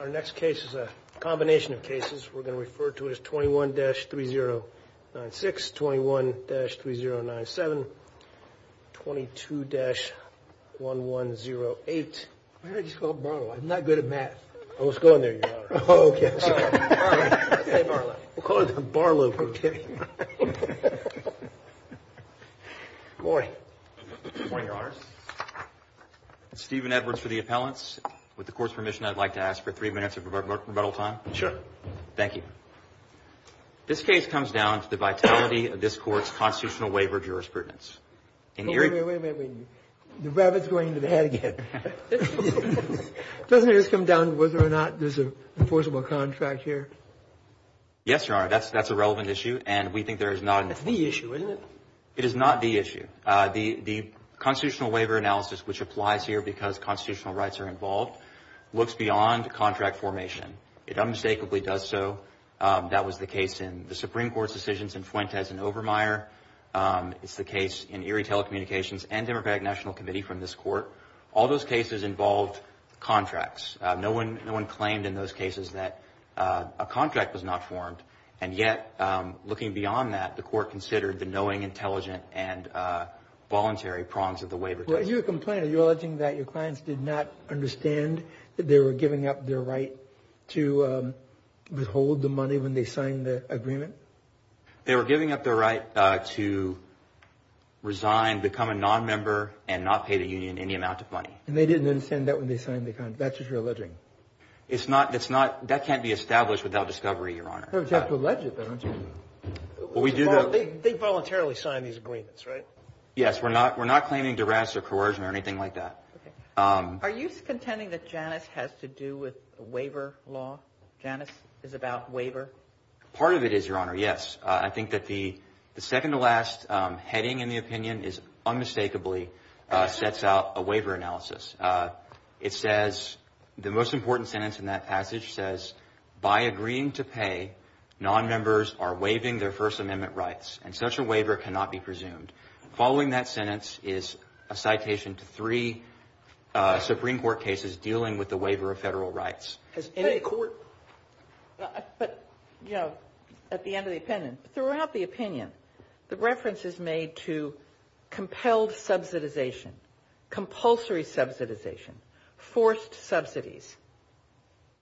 Our next case is a combination of cases. We're going to refer to it as 21-3096, 21-3097, 22-1108. Why don't I just call him Barlow? I'm not good at math. Oh, let's go in there, Your Honor. Oh, okay. All right. I'll say Barlow. We'll call him Barlow. We're kidding. Good morning. Good morning, Your Honor. Stephen Edwards for the appellants. With the Court's permission, I'd like to ask for three minutes of rebuttal time. Sure. Thank you. This case comes down to the vitality of this Court's constitutional waiver jurisprudence. Wait, wait, wait. The rabbit's going into the hat again. Doesn't it just come down to whether or not there's an enforceable contract here? Yes, Your Honor. That's a relevant issue, and we think there is not. That's the issue, isn't it? It is not the issue. The constitutional waiver analysis, which applies here because constitutional rights are involved, looks beyond contract formation. It unmistakably does so. That was the case in the Supreme Court's decisions in Fuentes and Overmyer. It's the case in Erie Telecommunications and Democratic National Committee from this Court. All those cases involved contracts. No one claimed in those cases that a contract was not formed. And yet, looking beyond that, the Court considered the knowing, intelligent, and voluntary prongs of the waiver test. You're a complainant. Are you alleging that your clients did not understand that they were giving up their right to withhold the money when they signed the agreement? They were giving up their right to resign, become a nonmember, and not pay the union any amount of money. And they didn't understand that when they signed the contract. That's what you're alleging. That can't be established without discovery, Your Honor. You have to allege it, though, don't you? They voluntarily signed these agreements, right? Yes. We're not claiming duress or coercion or anything like that. Are you contending that Janus has to do with waiver law? Janus is about waiver? Part of it is, Your Honor, yes. I think that the second-to-last heading in the opinion unmistakably sets out a waiver analysis. It says, the most important sentence in that passage says, by agreeing to pay, nonmembers are waiving their First Amendment rights, and such a waiver cannot be presumed. Following that sentence is a citation to three Supreme Court cases dealing with the waiver of Federal rights. Has any court ---- But, you know, at the end of the opinion, throughout the opinion, the reference is made to compelled subsidization, compulsory subsidization, forced subsidies.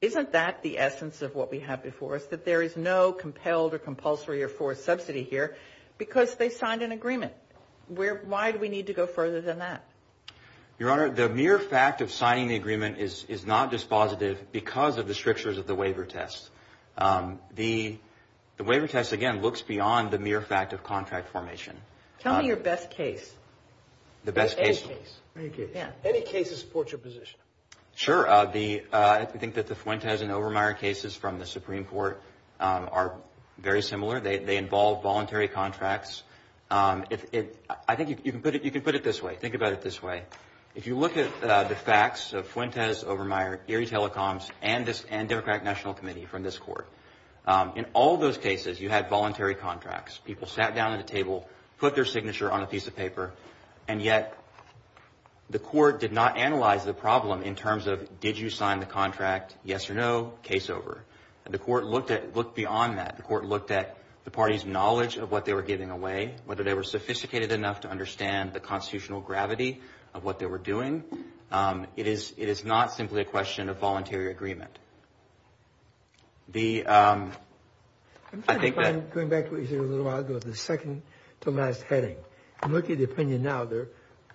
Isn't that the essence of what we have before us, that there is no compelled or compulsory or forced subsidy here because they signed an agreement? Why do we need to go further than that? Your Honor, the mere fact of signing the agreement is not dispositive because of the strictures of the waiver test. The waiver test, again, looks beyond the mere fact of contract formation. Tell me your best case. The best case. Any case. Any case that supports your position. Sure. I think that the Fuentes and Obermeyer cases from the Supreme Court are very similar. They involve voluntary contracts. I think you can put it this way. Think about it this way. If you look at the facts of Fuentes, Obermeyer, Erie Telecoms, and Democratic National Committee from this court, in all those cases you had voluntary contracts. People sat down at a table, put their signature on a piece of paper, and yet the court did not analyze the problem in terms of did you sign the contract, yes or no, case over. The court looked beyond that. The court looked at the party's knowledge of what they were giving away, whether they were sophisticated enough to understand the constitutional gravity of what they were doing. It is not simply a question of voluntary agreement. I'm trying to find, going back to what you said a little while ago, the second-to-last heading. I'm looking at the opinion now.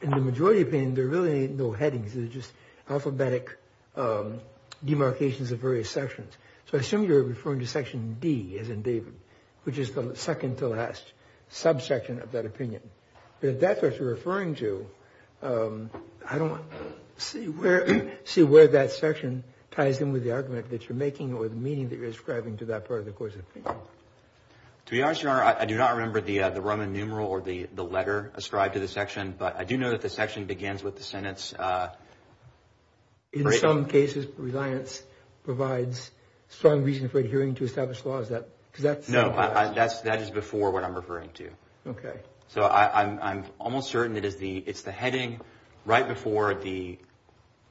In the majority opinion, there really ain't no headings. There's just alphabetic demarcations of various sections. So I assume you're referring to Section D, as in David, which is the second-to-last subsection of that opinion. But if that's what you're referring to, I don't see where that section ties in with the argument that you're making or the meaning that you're ascribing to that part of the court's opinion. To be honest, Your Honor, I do not remember the Roman numeral or the letter ascribed to the section, but I do know that the section begins with the sentence. In some cases, reliance provides strong reason for adhering to established laws. No, that is before what I'm referring to. Okay. So I'm almost certain it's the heading right before the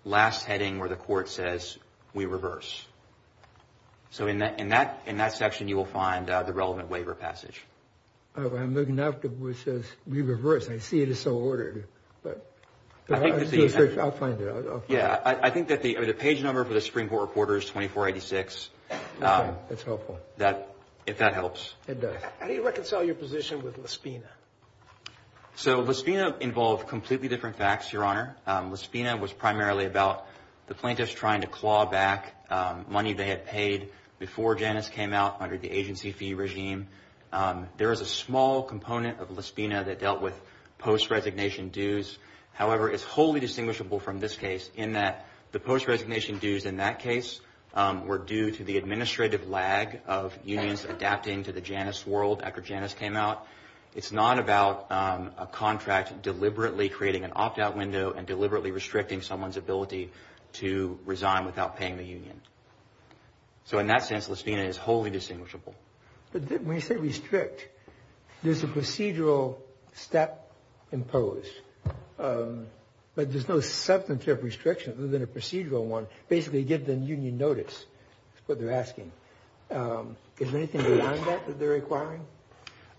last heading where the court says, we reverse. So in that section, you will find the relevant waiver passage. I'm looking now for where it says, we reverse. I see it is so ordered. I'll find it. Yeah. I think that the page number for the Supreme Court reporter is 2486. Okay. That's helpful. If that helps. It does. How do you reconcile your position with Lespina? So Lespina involved completely different facts, Your Honor. Lespina was primarily about the plaintiffs trying to claw back money they had paid before Janice came out under the agency fee regime. There is a small component of Lespina that dealt with post-resignation dues. However, it's wholly distinguishable from this case in that the post-resignation dues in that case were due to the administrative lag of unions adapting to the Janice world after Janice came out. It's not about a contract deliberately creating an opt-out window and deliberately restricting someone's ability to resign without paying the union. So in that sense, Lespina is wholly distinguishable. When you say restrict, there's a procedural step imposed, but there's no substantive restriction other than a procedural one. Basically, give them union notice is what they're asking. Is there anything beyond that that they're requiring?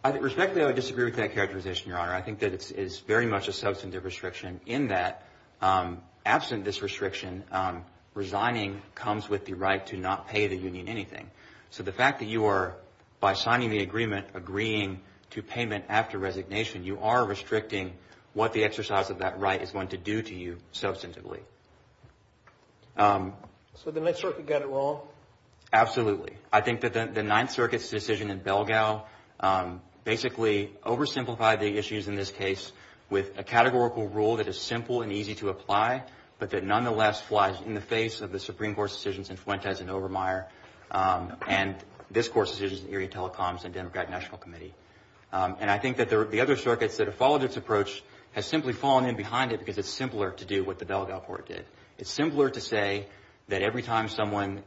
Respectfully, I would disagree with that characterization, Your Honor. I think that it's very much a substantive restriction in that absent this restriction, resigning comes with the right to not pay the union anything. So the fact that you are, by signing the agreement, agreeing to payment after resignation, you are restricting what the exercise of that right is going to do to you substantively. So the Ninth Circuit got it wrong? Absolutely. I think that the Ninth Circuit's decision in Belgao basically oversimplified the issues in this case with a categorical rule that is simple and easy to apply, but that nonetheless flies in the face of the Supreme Court's decisions in Fuentes and Obermeyer and this Court's decisions in Erie Telecoms and Democratic National Committee. And I think that the other circuits that have followed this approach have simply fallen in behind it because it's simpler to do what the Belgao Court did. It's simpler to say that every time someone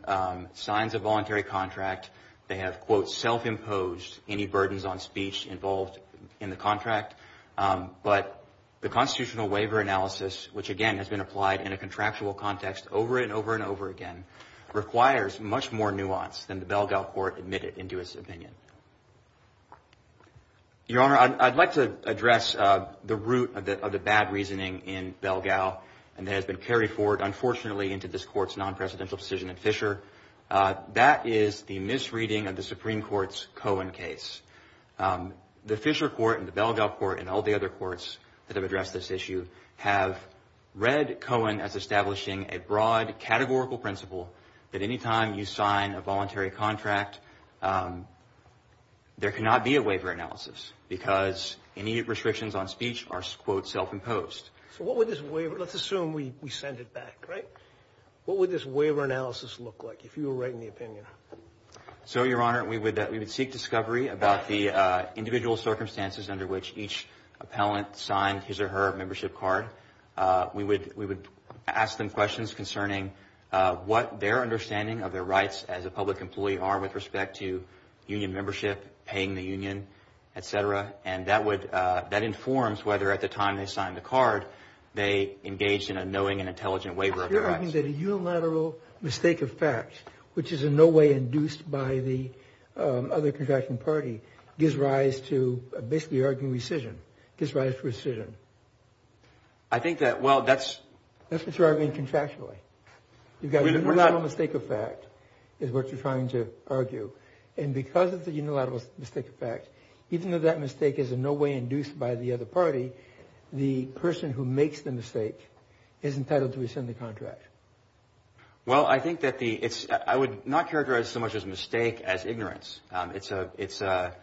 signs a voluntary contract, they have, quote, self-imposed any burdens on speech involved in the contract. But the constitutional waiver analysis, which, again, has been applied in a contractual context over and over and over again, requires much more nuance than the Belgao Court admitted into its opinion. Your Honor, I'd like to address the root of the bad reasoning in Belgao and that has been carried forward, unfortunately, into this Court's non-presidential decision in Fisher. That is the misreading of the Supreme Court's Cohen case. The Fisher Court and the Belgao Court and all the other courts that have addressed this issue have read Cohen as establishing a broad, there cannot be a waiver analysis because any restrictions on speech are, quote, self-imposed. So what would this waiver, let's assume we send it back, right? What would this waiver analysis look like if you were writing the opinion? So, Your Honor, we would seek discovery about the individual circumstances under which each appellant signed his or her membership card. We would ask them questions concerning what their understanding of their rights as a public employee are with respect to union membership, paying the union, et cetera. And that informs whether at the time they signed the card they engaged in a knowing and intelligent waiver of their rights. You're arguing that a unilateral mistake of fact, which is in no way induced by the other contracting party, gives rise to basically arguing rescission, gives rise to rescission. I think that, well, that's... That's what you're arguing contractually. You've got a unilateral mistake of fact is what you're trying to argue. And because of the unilateral mistake of fact, even though that mistake is in no way induced by the other party, the person who makes the mistake is entitled to rescind the contract. Well, I think that the, it's, I would not characterize so much as mistake as ignorance. It's a, it's a,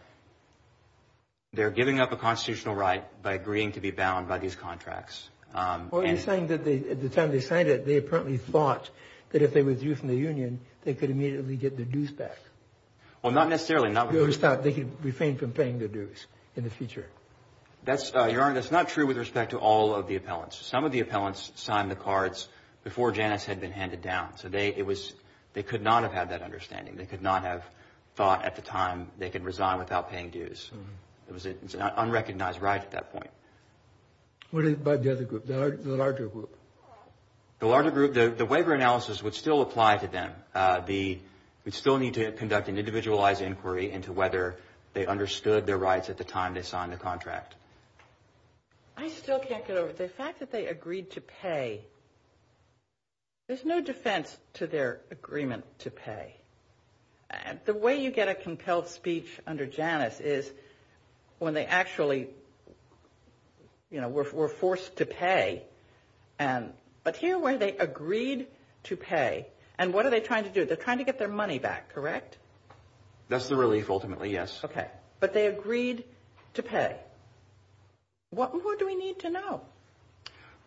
they're giving up a constitutional right by agreeing to be bound by these contracts. Well, you're saying that at the time they signed it, they apparently thought that if they withdrew from the union they could immediately get their dues back. Well, not necessarily. You always thought they could refrain from paying their dues in the future. That's, Your Honor, that's not true with respect to all of the appellants. Some of the appellants signed the cards before Janus had been handed down. So they, it was, they could not have had that understanding. They could not have thought at the time they could resign without paying dues. It was an unrecognized right at that point. What about the other group, the larger group? The larger group, the waiver analysis would still apply to them. The, we'd still need to conduct an individualized inquiry into whether they understood their rights at the time they signed the contract. I still can't get over the fact that they agreed to pay. There's no defense to their agreement to pay. The way you get a compelled speech under Janus is when they actually, you know, were forced to pay. But here where they agreed to pay, and what are they trying to do? They're trying to get their money back, correct? That's the relief ultimately, yes. Okay. But they agreed to pay. What more do we need to know?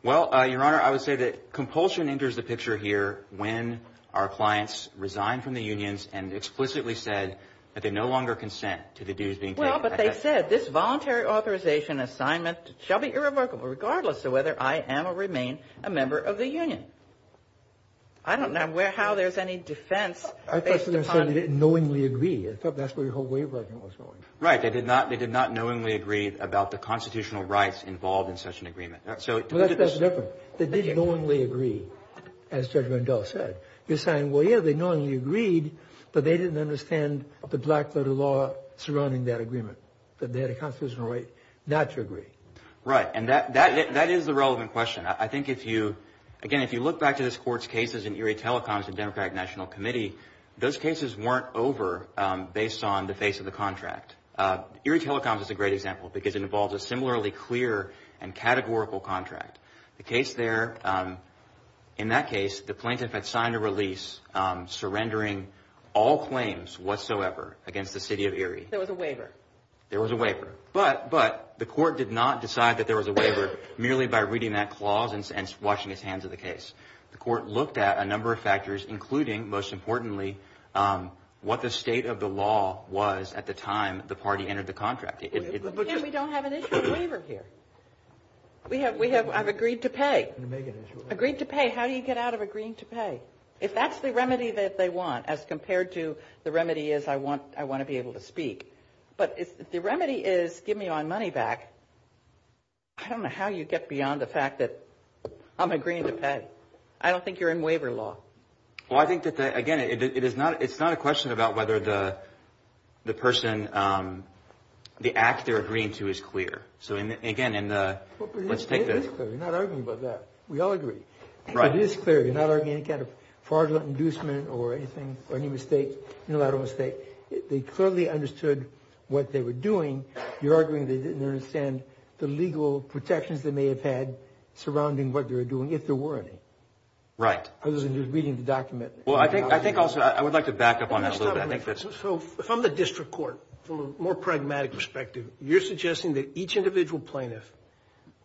Well, Your Honor, I would say that compulsion enters the picture here when our clients resigned from the unions and explicitly said that they no longer consent to the dues being paid. Well, but they said this voluntary authorization assignment shall be irrevocable, regardless of whether I am or remain a member of the union. I don't know how there's any defense based upon. I thought they said they didn't knowingly agree. I thought that's where your whole waiver argument was going. Right. They did not knowingly agree about the constitutional rights involved in such an agreement. Well, that's different. They did knowingly agree, as Judge Rendell said. You're saying, well, yeah, they knowingly agreed, but they didn't understand the black-letter law surrounding that agreement, that they had a constitutional right not to agree. Right, and that is the relevant question. I think if you, again, if you look back to this Court's cases in Erie Telecoms and Democratic National Committee, those cases weren't over based on the face of the contract. Erie Telecoms is a great example because it involves a similarly clear and categorical contract. The case there, in that case, the plaintiff had signed a release, surrendering all claims whatsoever against the city of Erie. There was a waiver. There was a waiver, but the Court did not decide that there was a waiver merely by reading that clause and washing his hands of the case. The Court looked at a number of factors, including, most importantly, what the state of the law was at the time the party entered the contract. Again, we don't have an issue of waiver here. I've agreed to pay. Agreed to pay. How do you get out of agreeing to pay? If that's the remedy that they want as compared to the remedy is I want to be able to speak, but if the remedy is give me my money back, I don't know how you get beyond the fact that I'm agreeing to pay. I don't think you're in waiver law. Well, I think that, again, it's not a question about whether the person, the act they're agreeing to is clear. So, again, let's take this. It is clear. You're not arguing about that. We all agree. Right. It is clear. You're not arguing any kind of fraudulent inducement or anything or any mistake, unilateral mistake. They clearly understood what they were doing. You're arguing they didn't understand the legal protections they may have had surrounding what they were doing if there were any. Right. Other than you're reading the document. Well, I think also I would like to back up on that a little bit. So, from the district court, from a more pragmatic perspective, you're suggesting that each individual plaintiff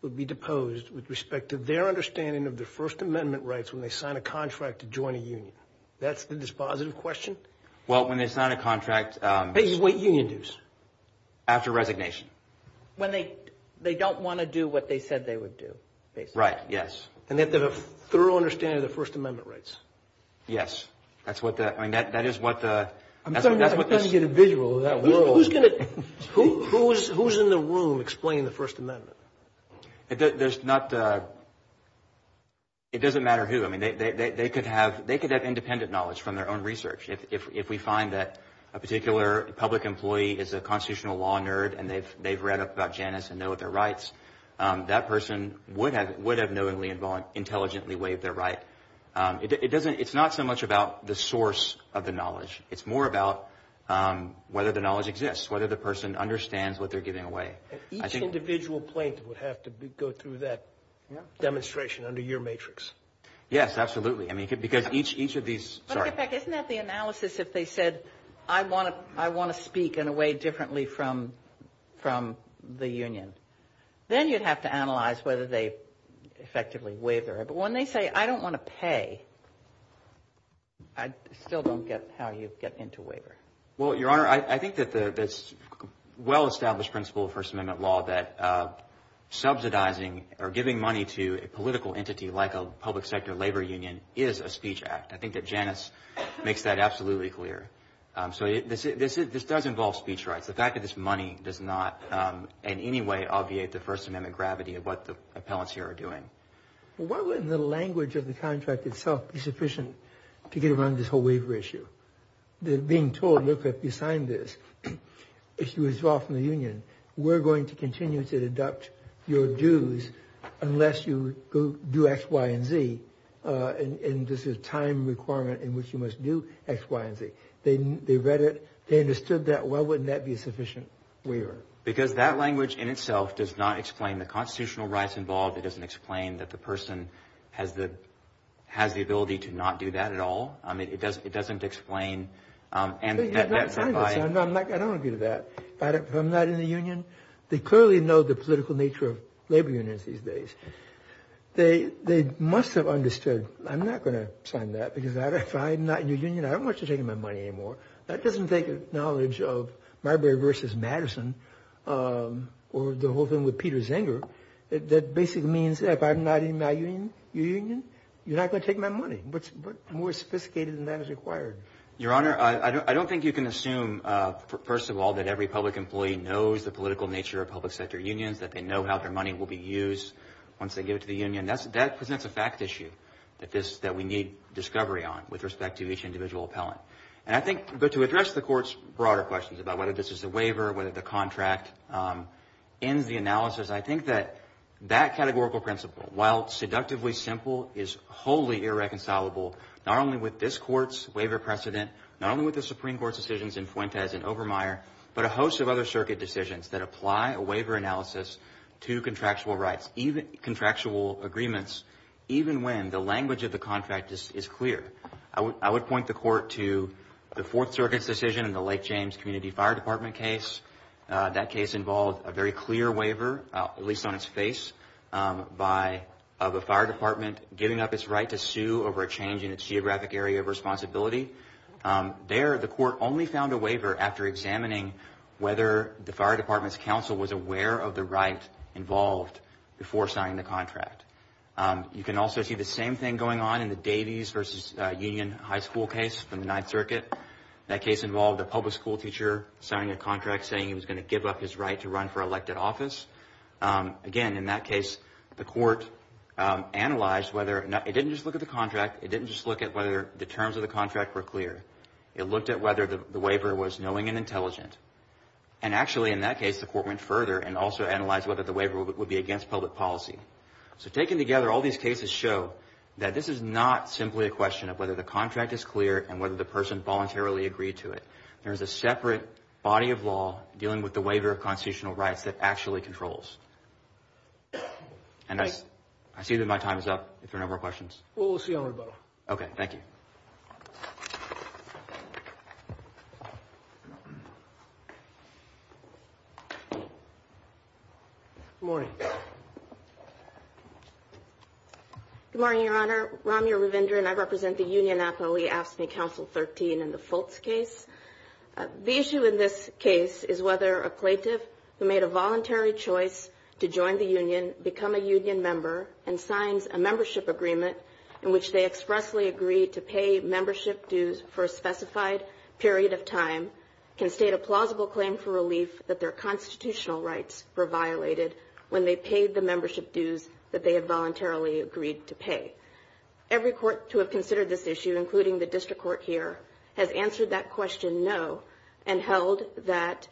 would be deposed with respect to their understanding of their First Amendment rights when they sign a contract to join a union. That's the dispositive question? Well, when they sign a contract. What union dues? After resignation. When they don't want to do what they said they would do, basically. Right. Yes. And they have to have a thorough understanding of their First Amendment rights. Yes. That's what the – I mean, that is what the – I'm talking about an individual in that world. Who's going to – who's in the room explaining the First Amendment? There's not – it doesn't matter who. I mean, they could have independent knowledge from their own research. If we find that a particular public employee is a constitutional law nerd and they've read up about Janus and know what their rights, that person would have knowingly and intelligently waived their right. It doesn't – it's not so much about the source of the knowledge. It's more about whether the knowledge exists, whether the person understands what they're giving away. Each individual plaintiff would have to go through that demonstration under your matrix. Yes, absolutely. I mean, because each of these – sorry. As a matter of fact, isn't that the analysis if they said, I want to speak in a way differently from the union? Then you'd have to analyze whether they effectively waived their right. But when they say, I don't want to pay, I still don't get how you get into waiver. Well, Your Honor, I think that the well-established principle of First Amendment law, that subsidizing or giving money to a political entity like a public sector labor union is a speech act. I think that Janus makes that absolutely clear. So this does involve speech rights. The fact that this money does not in any way obviate the First Amendment gravity of what the appellants here are doing. Why wouldn't the language of the contract itself be sufficient to get around this whole waiver issue? They're being told, look, if you sign this, if you withdraw from the union, we're going to continue to deduct your dues unless you do X, Y, and Z. And this is a time requirement in which you must do X, Y, and Z. They read it. They understood that. Why wouldn't that be a sufficient waiver? Because that language in itself does not explain the constitutional rights involved. It doesn't explain that the person has the ability to not do that at all. I mean, it doesn't explain. I don't agree with that. If I'm not in the union, they clearly know the political nature of labor unions these days. They must have understood, I'm not going to sign that because if I'm not in your union, I don't want you taking my money anymore. That doesn't take knowledge of Marbury v. Madison or the whole thing with Peter Zenger. That basically means if I'm not in my union, you're not going to take my money. What's more sophisticated than that is required? Your Honor, I don't think you can assume, first of all, that every public employee knows the political nature of public sector unions, that they know how their money will be used once they give it to the union. That presents a fact issue that we need discovery on with respect to each individual appellant. But to address the Court's broader questions about whether this is a waiver, whether the contract ends the analysis, I think that that categorical principle, while seductively simple, is wholly irreconcilable not only with this Court's waiver precedent, not only with the Supreme Court's decisions in Fuentes and Obermeyer, but a host of other circuit decisions that apply a waiver analysis to contractual rights, contractual agreements, even when the language of the contract is clear. I would point the Court to the Fourth Circuit's decision in the Lake James Community Fire Department case. That case involved a very clear waiver, at least on its face, of a fire department giving up its right to sue over a change in its geographic area of responsibility. There, the Court only found a waiver after examining whether the fire department's counsel was aware of the right involved before signing the contract. You can also see the same thing going on in the Davies v. Union High School case from the Ninth Circuit. That case involved a public school teacher signing a contract saying he was going to give up his right to run for elected office. Again, in that case, the Court analyzed whether it didn't just look at the contract, it didn't just look at whether the terms of the contract were clear, it looked at whether the waiver was knowing and intelligent. And actually, in that case, the Court went further and also analyzed whether the waiver would be against public policy. So taken together, all these cases show that this is not simply a question of whether the contract is clear and whether the person voluntarily agreed to it. There is a separate body of law dealing with the waiver of constitutional rights that actually controls. And I see that my time is up, if there are no more questions. Well, we'll see you on rebuttal. Okay. Thank you. Good morning. Good morning, Your Honor. Ramya Ravindran. I represent the union athlete AFSCME Council 13 in the Fultz case. The issue in this case is whether a plaintiff who made a voluntary choice to join the union, become a union member, and signs a membership agreement in which they expressly agree to pay membership dues for a specified period of time, can state a plausible claim for relief that their constitutional rights were violated when they paid the membership dues that they had voluntarily agreed to pay. Every court to have considered this issue, including the district court here, has answered that question no and held that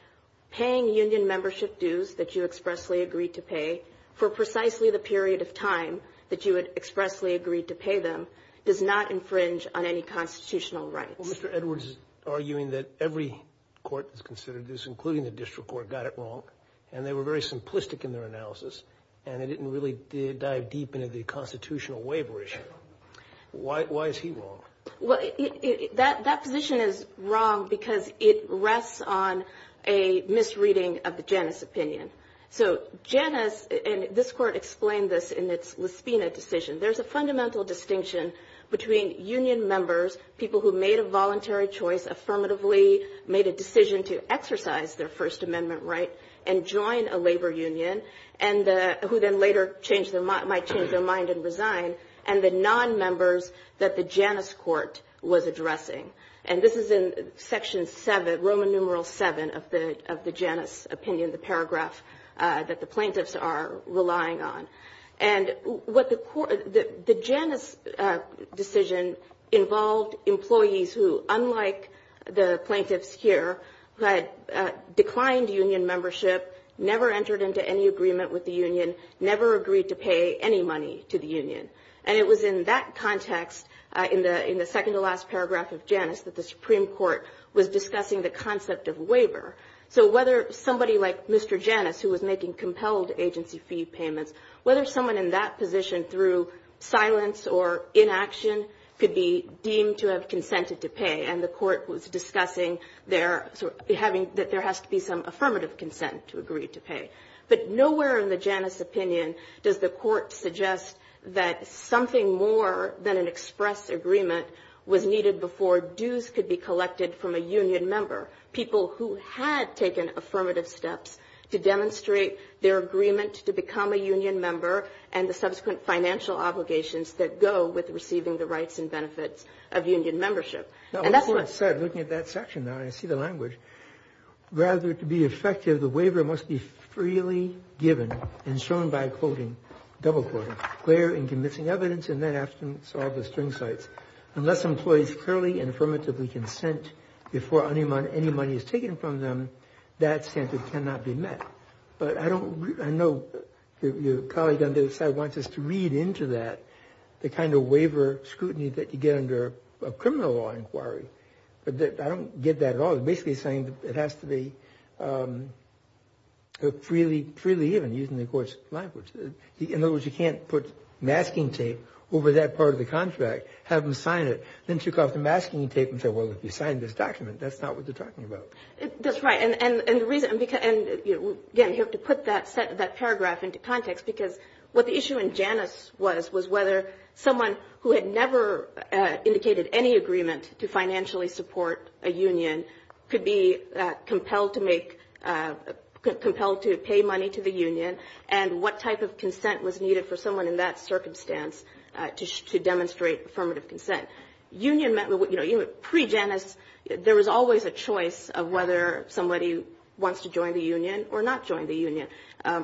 paying union membership dues that you expressly agreed to pay for precisely the period of time that you had expressly agreed to pay them does not infringe on any constitutional rights. Well, Mr. Edwards is arguing that every court that's considered this, including the district court, got it wrong, and they were very simplistic in their analysis, and they didn't really dive deep into the constitutional waiver issue. Why is he wrong? Well, that position is wrong because it rests on a misreading of the Janus opinion. So Janus, and this court explained this in its Lisbena decision, there's a fundamental distinction between union members, people who made a voluntary choice, affirmatively made a decision to exercise their First Amendment right and join a labor union, and who then later might change their mind and resign, and the nonmembers that the Janus court was addressing. And this is in section 7, Roman numeral 7 of the Janus opinion, the paragraph that the plaintiffs are relying on. And the Janus decision involved employees who, unlike the plaintiffs here, had declined union membership, never entered into any agreement with the union, And it was in that context, in the second-to-last paragraph of Janus, that the Supreme Court was discussing the concept of waiver. So whether somebody like Mr. Janus, who was making compelled agency fee payments, whether someone in that position, through silence or inaction, could be deemed to have consented to pay, and the court was discussing that there has to be some affirmative consent to agree to pay. But nowhere in the Janus opinion does the court suggest that something more than an express agreement was needed before dues could be collected from a union member, people who had taken affirmative steps to demonstrate their agreement to become a union member, and the subsequent financial obligations that go with receiving the rights and benefits of union membership. And that's what I said, looking at that section now, and I see the language. Rather to be effective, the waiver must be freely given and shown by quoting, double-quoting, clear and convincing evidence, and then afterwards all the string cites. Unless employees clearly and affirmatively consent before any money is taken from them, that standard cannot be met. But I know your colleague on the other side wants us to read into that the kind of waiver scrutiny that you get under a criminal law inquiry. But I don't get that at all. It's basically saying it has to be freely given, using the court's language. In other words, you can't put masking tape over that part of the contract, have them sign it, then took off the masking tape and say, well, if you sign this document, that's not what they're talking about. That's right. And the reason, and again, you have to put that paragraph into context, because what the issue in Janus was, was whether someone who had never indicated any agreement to financially support a union could be compelled to pay money to the union and what type of consent was needed for someone in that circumstance to demonstrate affirmative consent. Union meant, you know, pre-Janus, there was always a choice of whether somebody wants to join the union or not join the union.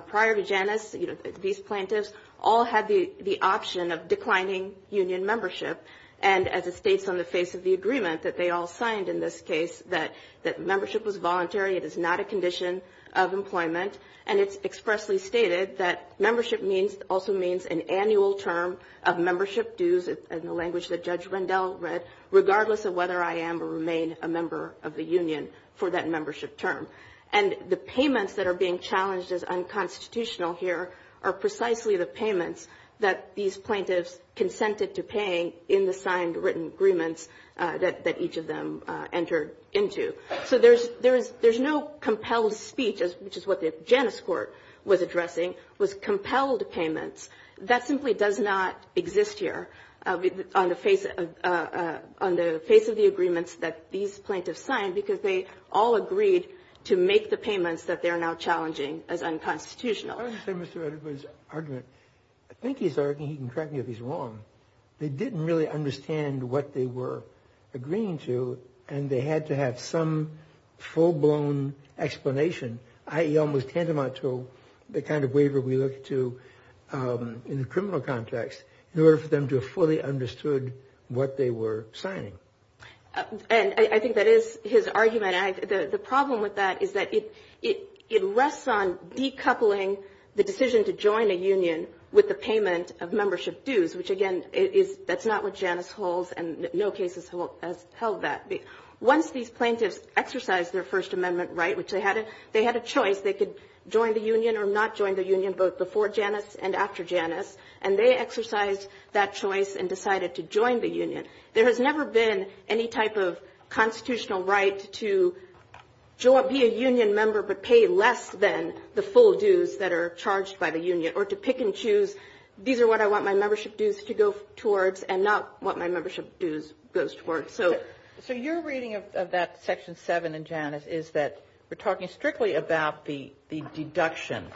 Prior to Janus, these plaintiffs all had the option of declining union membership. And as it states on the face of the agreement that they all signed in this case, that membership was voluntary, it is not a condition of employment, and it's expressly stated that membership also means an annual term of membership dues, in the language that Judge Rendell read, regardless of whether I am or remain a member of the union for that membership term. And the payments that are being challenged as unconstitutional here are precisely the payments that these plaintiffs consented to paying in the signed written agreements that each of them entered into. So there's no compelled speech, which is what the Janus court was addressing, was compelled payments. That simply does not exist here on the face of the agreements that these plaintiffs signed because they all agreed to make the payments that they're now challenging as unconstitutional. I was going to say, Mr. Edelman's argument, I think he's arguing, he can correct me if he's wrong, they didn't really understand what they were agreeing to, and they had to have some full-blown explanation, i.e. almost tantamount to the kind of waiver we look to in the criminal context, in order for them to have fully understood what they were signing. And I think that is his argument. The problem with that is that it rests on decoupling the decision to join a union with the payment of membership dues, which, again, that's not what Janus holds, and no case has held that. Once these plaintiffs exercised their First Amendment right, which they had a choice, they could join the union or not join the union both before Janus and after Janus, and they exercised that choice and decided to join the union. There has never been any type of constitutional right to be a union member but pay less than the full dues that are charged by the union, or to pick and choose these are what I want my membership dues to go towards and not what my membership dues goes towards. So your reading of that Section 7 in Janus is that we're talking strictly about the deduction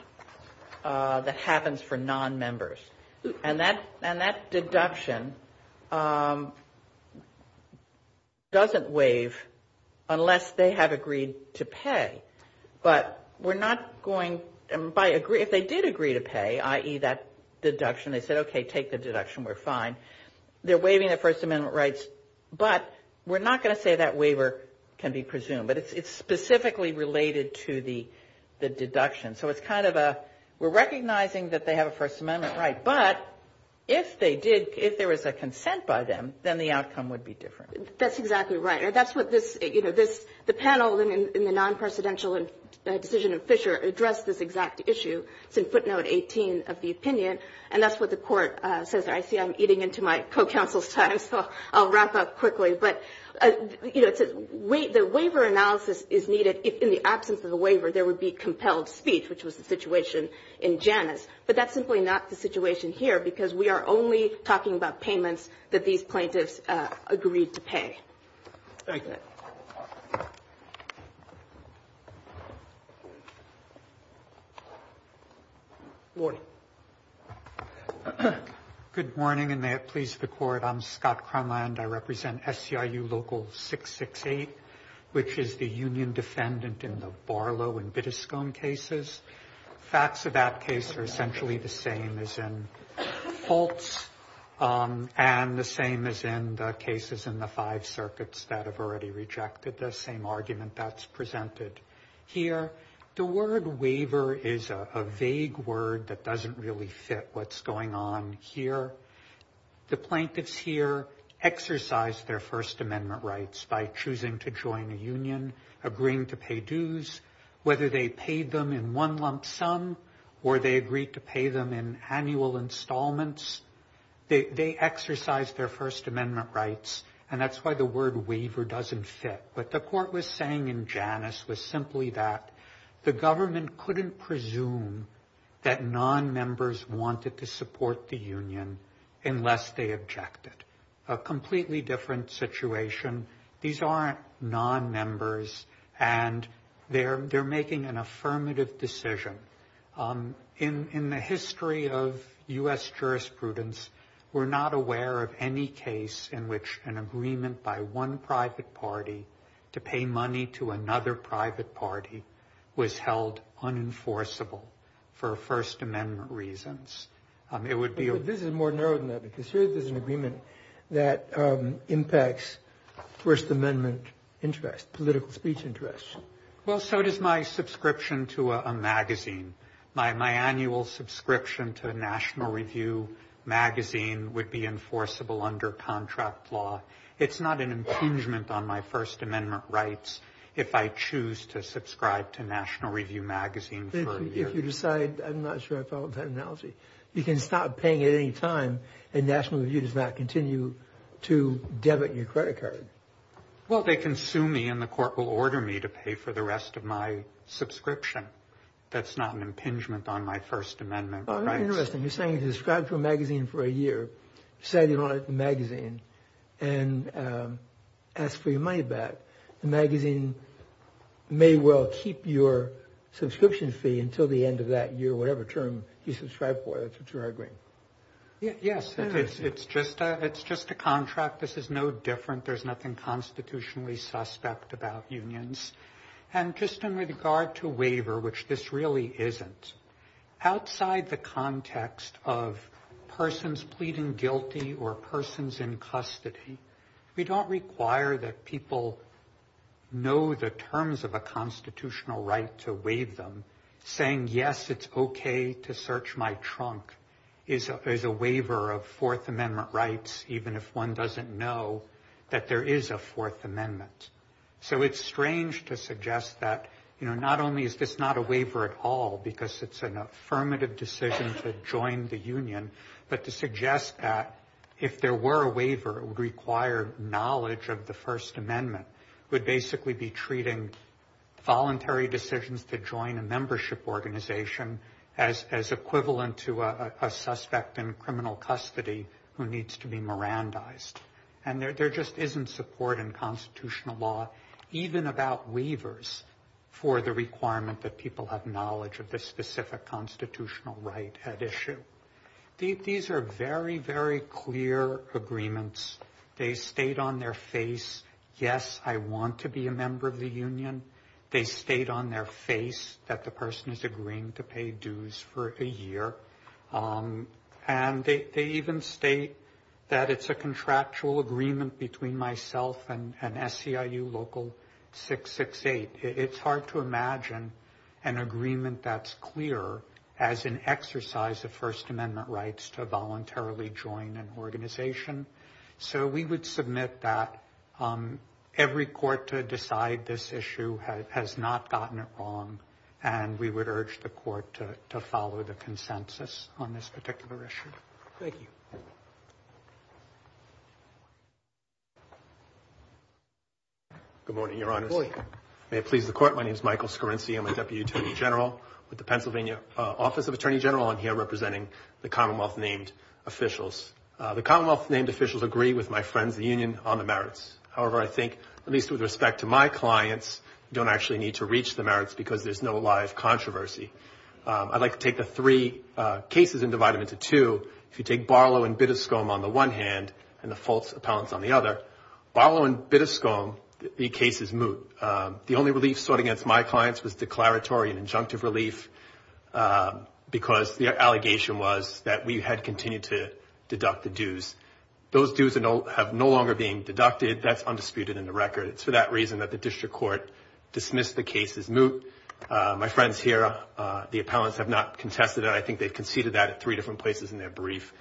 that happens for nonmembers. And that deduction doesn't waive unless they have agreed to pay. But we're not going by agree, if they did agree to pay, i.e., that deduction, they said, okay, take the deduction, we're fine. They're waiving their First Amendment rights, but we're not going to say that waiver can be presumed, but it's specifically related to the deduction. So it's kind of a, we're recognizing that they have a First Amendment right, but if they did, if there was a consent by them, then the outcome would be different. That's exactly right. And that's what this, you know, this, the panel in the non-presidential decision of Fisher addressed this exact issue. It's in footnote 18 of the opinion, and that's what the court says. I see I'm eating into my co-counsel's time, so I'll wrap up quickly. But, you know, it says the waiver analysis is needed if, in the absence of the waiver, there would be compelled speech, which was the situation in Janus. But that's simply not the situation here, because we are only talking about payments that these plaintiffs agreed to pay. Thank you. Morning. Good morning, and may it please the Court. I'm Scott Cronland. I represent SCIU Local 668, which is the union defendant in the Barlow and Bittescombe cases. Facts of that case are essentially the same as in Fultz and the same as in the cases in the Five Circuits that have already rejected the same argument that's presented here. The word waiver is a vague word that doesn't really fit what's going on here. The plaintiffs here exercised their First Amendment rights by choosing to join a union, agreeing to pay dues. Whether they paid them in one lump sum or they agreed to pay them in annual installments, they exercised their First Amendment rights, and that's why the word waiver doesn't fit. What the court was saying in Janus was simply that the government couldn't presume that non-members wanted to support the union unless they objected. A completely different situation. These aren't non-members, and they're making an affirmative decision. In the history of U.S. jurisprudence, we're not aware of any case in which an agreement by one private party to pay money to another private party was held unenforceable for First Amendment reasons. It would be a... But this is more narrow than that, because here there's an agreement that impacts First Amendment interest, political speech interest. Well, so does my subscription to a magazine. My annual subscription to a National Review magazine would be enforceable under contract law. It's not an impingement on my First Amendment rights if I choose to subscribe to National Review magazine for a year. If you decide... I'm not sure I followed that analogy. You can stop paying at any time, and National Review does not continue to debit your credit card. Well, they can sue me, and the court will order me to pay for the rest of my subscription. That's not an impingement on my First Amendment rights. Well, very interesting. You're saying if you subscribe to a magazine for a year, decide you don't like the magazine, and ask for your money back, the magazine may well keep your subscription fee until the end of that year, whatever term you subscribe for. That's what you're arguing. Yes, it's just a contract. This is no different. There's nothing constitutionally suspect about unions. And just in regard to waiver, which this really isn't, outside the context of persons pleading guilty or persons in custody, we don't require that people know the terms of a constitutional right to waive them. Saying, yes, it's okay to search my trunk, is a waiver of Fourth Amendment rights, even if one doesn't know that there is a Fourth Amendment. So it's strange to suggest that not only is this not a waiver at all, because it's an affirmative decision to join the union, but to suggest that if there were a waiver, it would require knowledge of the First Amendment, would basically be treating voluntary decisions to join a membership organization as equivalent to a suspect in criminal custody who needs to be Mirandized. And there just isn't support in constitutional law, even about waivers, for the requirement that people have knowledge of the specific constitutional right at issue. These are very, very clear agreements. They state on their face, yes, I want to be a member of the union. They state on their face that the person is agreeing to pay dues for a year. And they even state that it's a contractual agreement between myself and SCIU Local 668. It's hard to imagine an agreement that's clear as an exercise of First Amendment rights to voluntarily join an organization. So we would submit that every court to decide this issue has not gotten it wrong, and we would urge the court to follow the consensus on this particular issue. Thank you. Good morning, Your Honors. Good morning. May it please the Court. My name is Michael Scorinci. I'm a Deputy Attorney General with the Pennsylvania Office of Attorney General. I'm here representing the Commonwealth-named officials. The Commonwealth-named officials agree with my friends in the union on the merits. However, I think, at least with respect to my clients, you don't actually need to reach the merits because there's no live controversy. I'd like to take the three cases and divide them into two. If you take Barlow and Bittescombe on the one hand and the false appellants on the other, Barlow and Bittescombe, the case is moot. The only relief sought against my clients was declaratory and injunctive relief because the allegation was that we had continued to deduct the dues. Those dues have no longer been deducted. That's undisputed in the record. It's for that reason that the district court dismissed the case as moot. My friends here, the appellants, have not contested it. I think they've conceded that at three different places in their brief,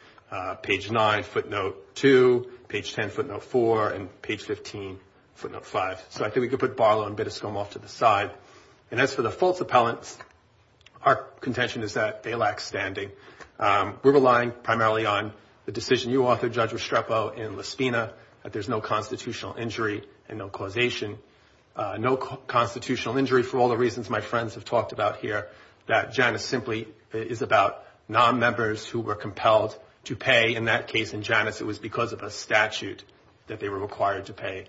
page 9, footnote 2, page 10, footnote 4, and page 15, footnote 5. So I think we can put Barlow and Bittescombe off to the side. And as for the false appellants, our contention is that they lack standing. We're relying primarily on the decision you authored, Judge Restrepo, in Lispina, that there's no constitutional injury and no causation. No constitutional injury for all the reasons my friends have talked about here, that Janus simply is about non-members who were compelled to pay. In that case, in Janus, it was because of a statute that they were required to pay.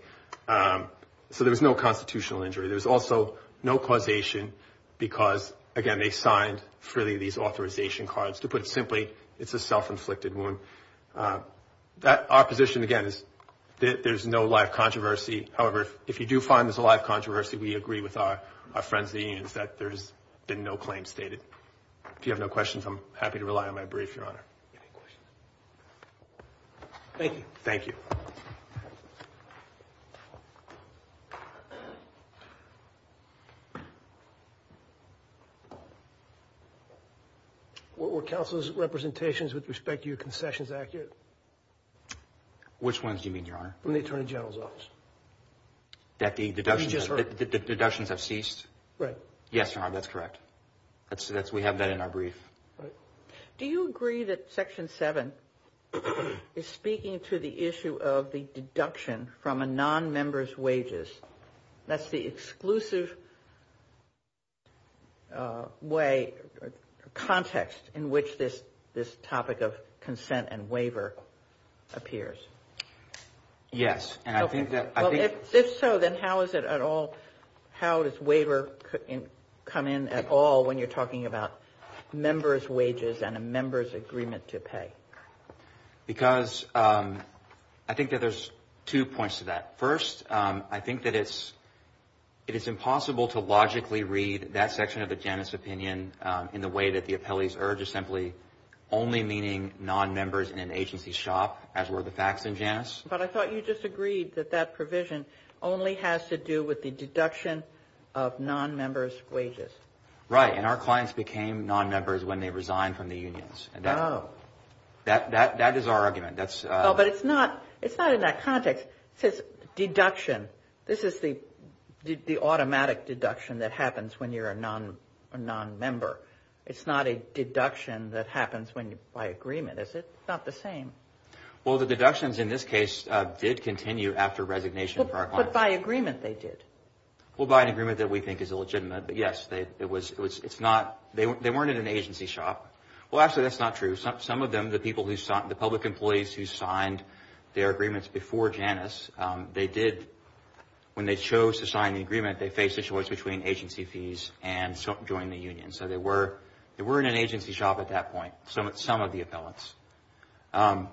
So there was no constitutional injury. There was also no causation because, again, they signed freely these authorization cards. To put it simply, it's a self-inflicted wound. Our position, again, is that there's no live controversy. However, if you do find there's a live controversy, we agree with our friends at the unions that there's been no claims stated. If you have no questions, I'm happy to rely on my brief, Your Honor. Any questions? Thank you. Thank you. Thank you. Were counsel's representations with respect to your concessions accurate? Which ones do you mean, Your Honor? From the Attorney General's office. That the deductions have ceased? Right. Yes, Your Honor, that's correct. We have that in our brief. Do you agree that Section 7 is speaking to the issue of the deduction from a non-member's wages? That's the exclusive way or context in which this topic of consent and waiver appears. Yes. If so, then how does waiver come in at all when you're talking about member's wages and a member's agreement to pay? Because I think that there's two points to that. First, I think that it's impossible to logically read that section of the Janus opinion in the way that the appellee's urge is simply only meaning non-members in an agency's shop, as were the facts in Janus. But I thought you disagreed that that provision only has to do with the deduction of non-members' wages. Right. And our clients became non-members when they resigned from the unions. Oh. That is our argument. But it's not in that context. It says deduction. This is the automatic deduction that happens when you're a non-member. It's not a deduction that happens by agreement, is it? It's not the same. Well, the deductions in this case did continue after resignation for our clients. But by agreement they did. Well, by an agreement that we think is illegitimate. But, yes, it's not. They weren't in an agency shop. Well, actually, that's not true. Some of them, the public employees who signed their agreements before Janus, they did. When they chose to sign the agreement, they faced a choice between agency fees and joining the union. So they were in an agency shop at that point, some of the appellants. I'm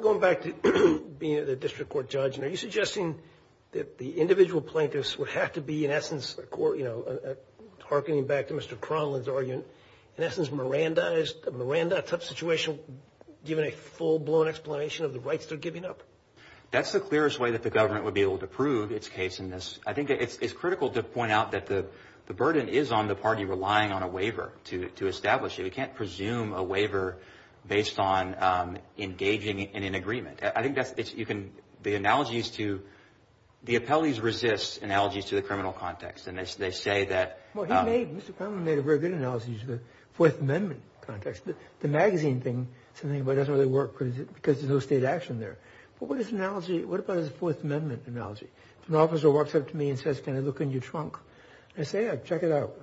going back to being a district court judge. And are you suggesting that the individual plaintiffs would have to be, in essence, harkening back to Mr. Cronlin's argument, in essence, Miranda, a tough situation, given a full-blown explanation of the rights they're giving up? That's the clearest way that the government would be able to prove its case in this. I think it's critical to point out that the burden is on the party relying on a waiver to establish it. You can't presume a waiver based on engaging in an agreement. I think that's – you can – the analogies to – the appellees resist analogies to the criminal context. And they say that – Well, he made – Mr. Cronlin made a very good analogy to the Fourth Amendment context. The magazine thing, something about it doesn't really work because there's no state action there. But what is the analogy – what about his Fourth Amendment analogy? If an officer walks up to me and says, can I look in your trunk? I say, yeah, check it out.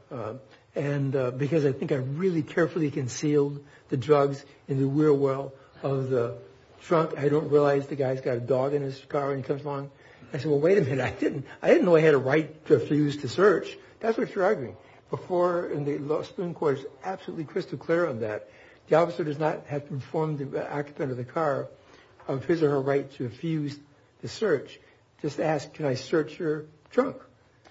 Because I think I really carefully concealed the drugs in the wheel well of the trunk. I don't realize the guy's got a dog in his car when he comes along. I say, well, wait a minute. I didn't know I had a right to refuse to search. That's what you're arguing. Before – and the Supreme Court is absolutely crystal clear on that. The officer does not have to inform the occupant of the car of his or her right to refuse to search. Just ask, can I search your trunk?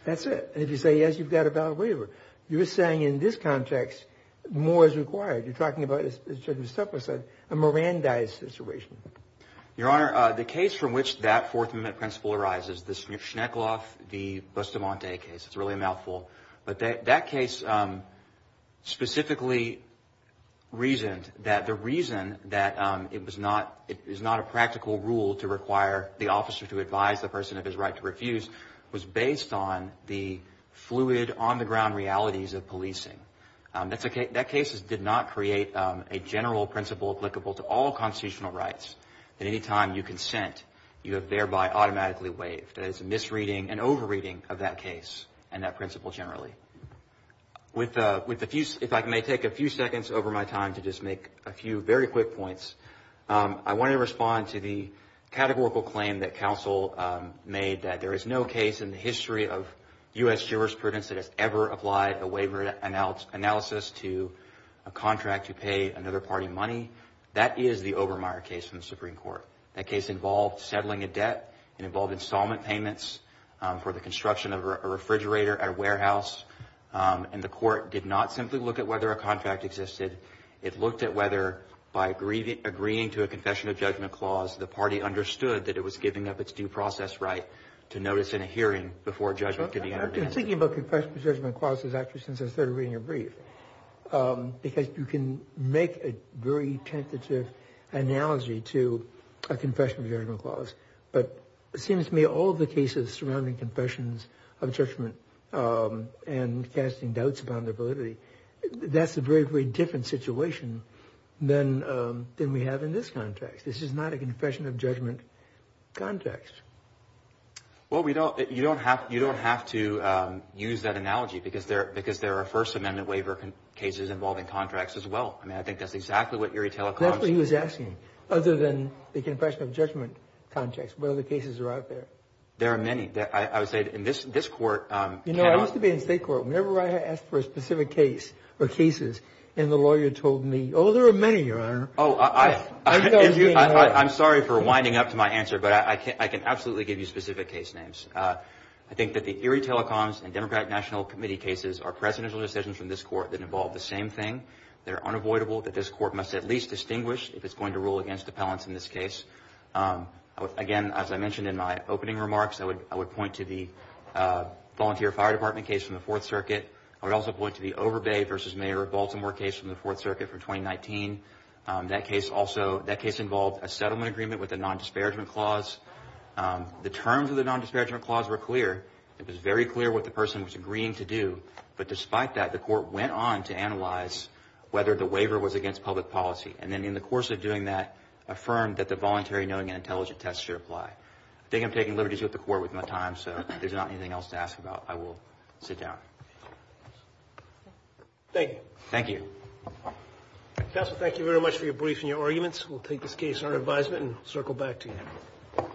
That's it. And if you say yes, you've got a valid waiver. You're saying in this context more is required. You're talking about, as Justice Tupper said, a Miranda-ized situation. Your Honor, the case from which that Fourth Amendment principle arises, the Schneckloff v. Bustamante case – it's really a mouthful. But that case specifically reasoned that the reason that it was not – it is not a practical rule to require the officer to advise the person of his right to refuse was based on the fluid, on-the-ground realities of policing. That case did not create a general principle applicable to all constitutional rights that any time you consent, you have thereby automatically waived. That is a misreading, an over-reading of that case and that principle generally. With a few – if I may take a few seconds over my time to just make a few very quick points, I want to respond to the categorical claim that counsel made that there is no case in the history of U.S. jurisprudence that has ever applied a waiver analysis to a contract to pay another party money. That is the Obermeyer case from the Supreme Court. That case involved settling a debt. It involved installment payments for the construction of a refrigerator at a warehouse. And the court did not simply look at whether a contract existed. It looked at whether by agreeing to a confession of judgment clause, the party understood that it was giving up its due process right to notice in a hearing before judgment could be entered into. I've been thinking about confession of judgment clauses actually since I started reading your brief because you can make a very tentative analogy to a confession of judgment clause. But it seems to me all the cases surrounding confessions of judgment and casting doubts about their validity, that's a very, very different situation than we have in this contract. This is not a confession of judgment contract. Well, we don't – you don't have to use that analogy because there are First Amendment waiver cases involving contracts as well. I mean, I think that's exactly what Erie Telecom's – That's what he was asking, other than the confession of judgment contracts. What other cases are out there? There are many. I would say in this court cannot – You know, I used to be in state court. Whenever I asked for a specific case or cases and the lawyer told me, oh, there are many, Your Honor. Oh, I'm sorry for winding up to my answer, but I can absolutely give you specific case names. I think that the Erie Telecom's and Democratic National Committee cases are precedential decisions from this court that involve the same thing. They're unavoidable that this court must at least distinguish if it's going to rule against appellants in this case. Again, as I mentioned in my opening remarks, I would point to the volunteer fire department case from the Fourth Circuit. I would also point to the Overbay v. Mayor of Baltimore case from the Fourth Circuit from 2019. That case also – that case involved a settlement agreement with a nondisparagement clause. The terms of the nondisparagement clause were clear. It was very clear what the person was agreeing to do. But despite that, the court went on to analyze whether the waiver was against public policy and then in the course of doing that, affirmed that the voluntary knowing and intelligent test should apply. I think I'm taking liberties with the court with my time, so if there's not anything else to ask about, I will sit down. Thank you. Thank you. Counsel, thank you very much for your brief and your arguments. We'll take this case under advisement and circle back to you.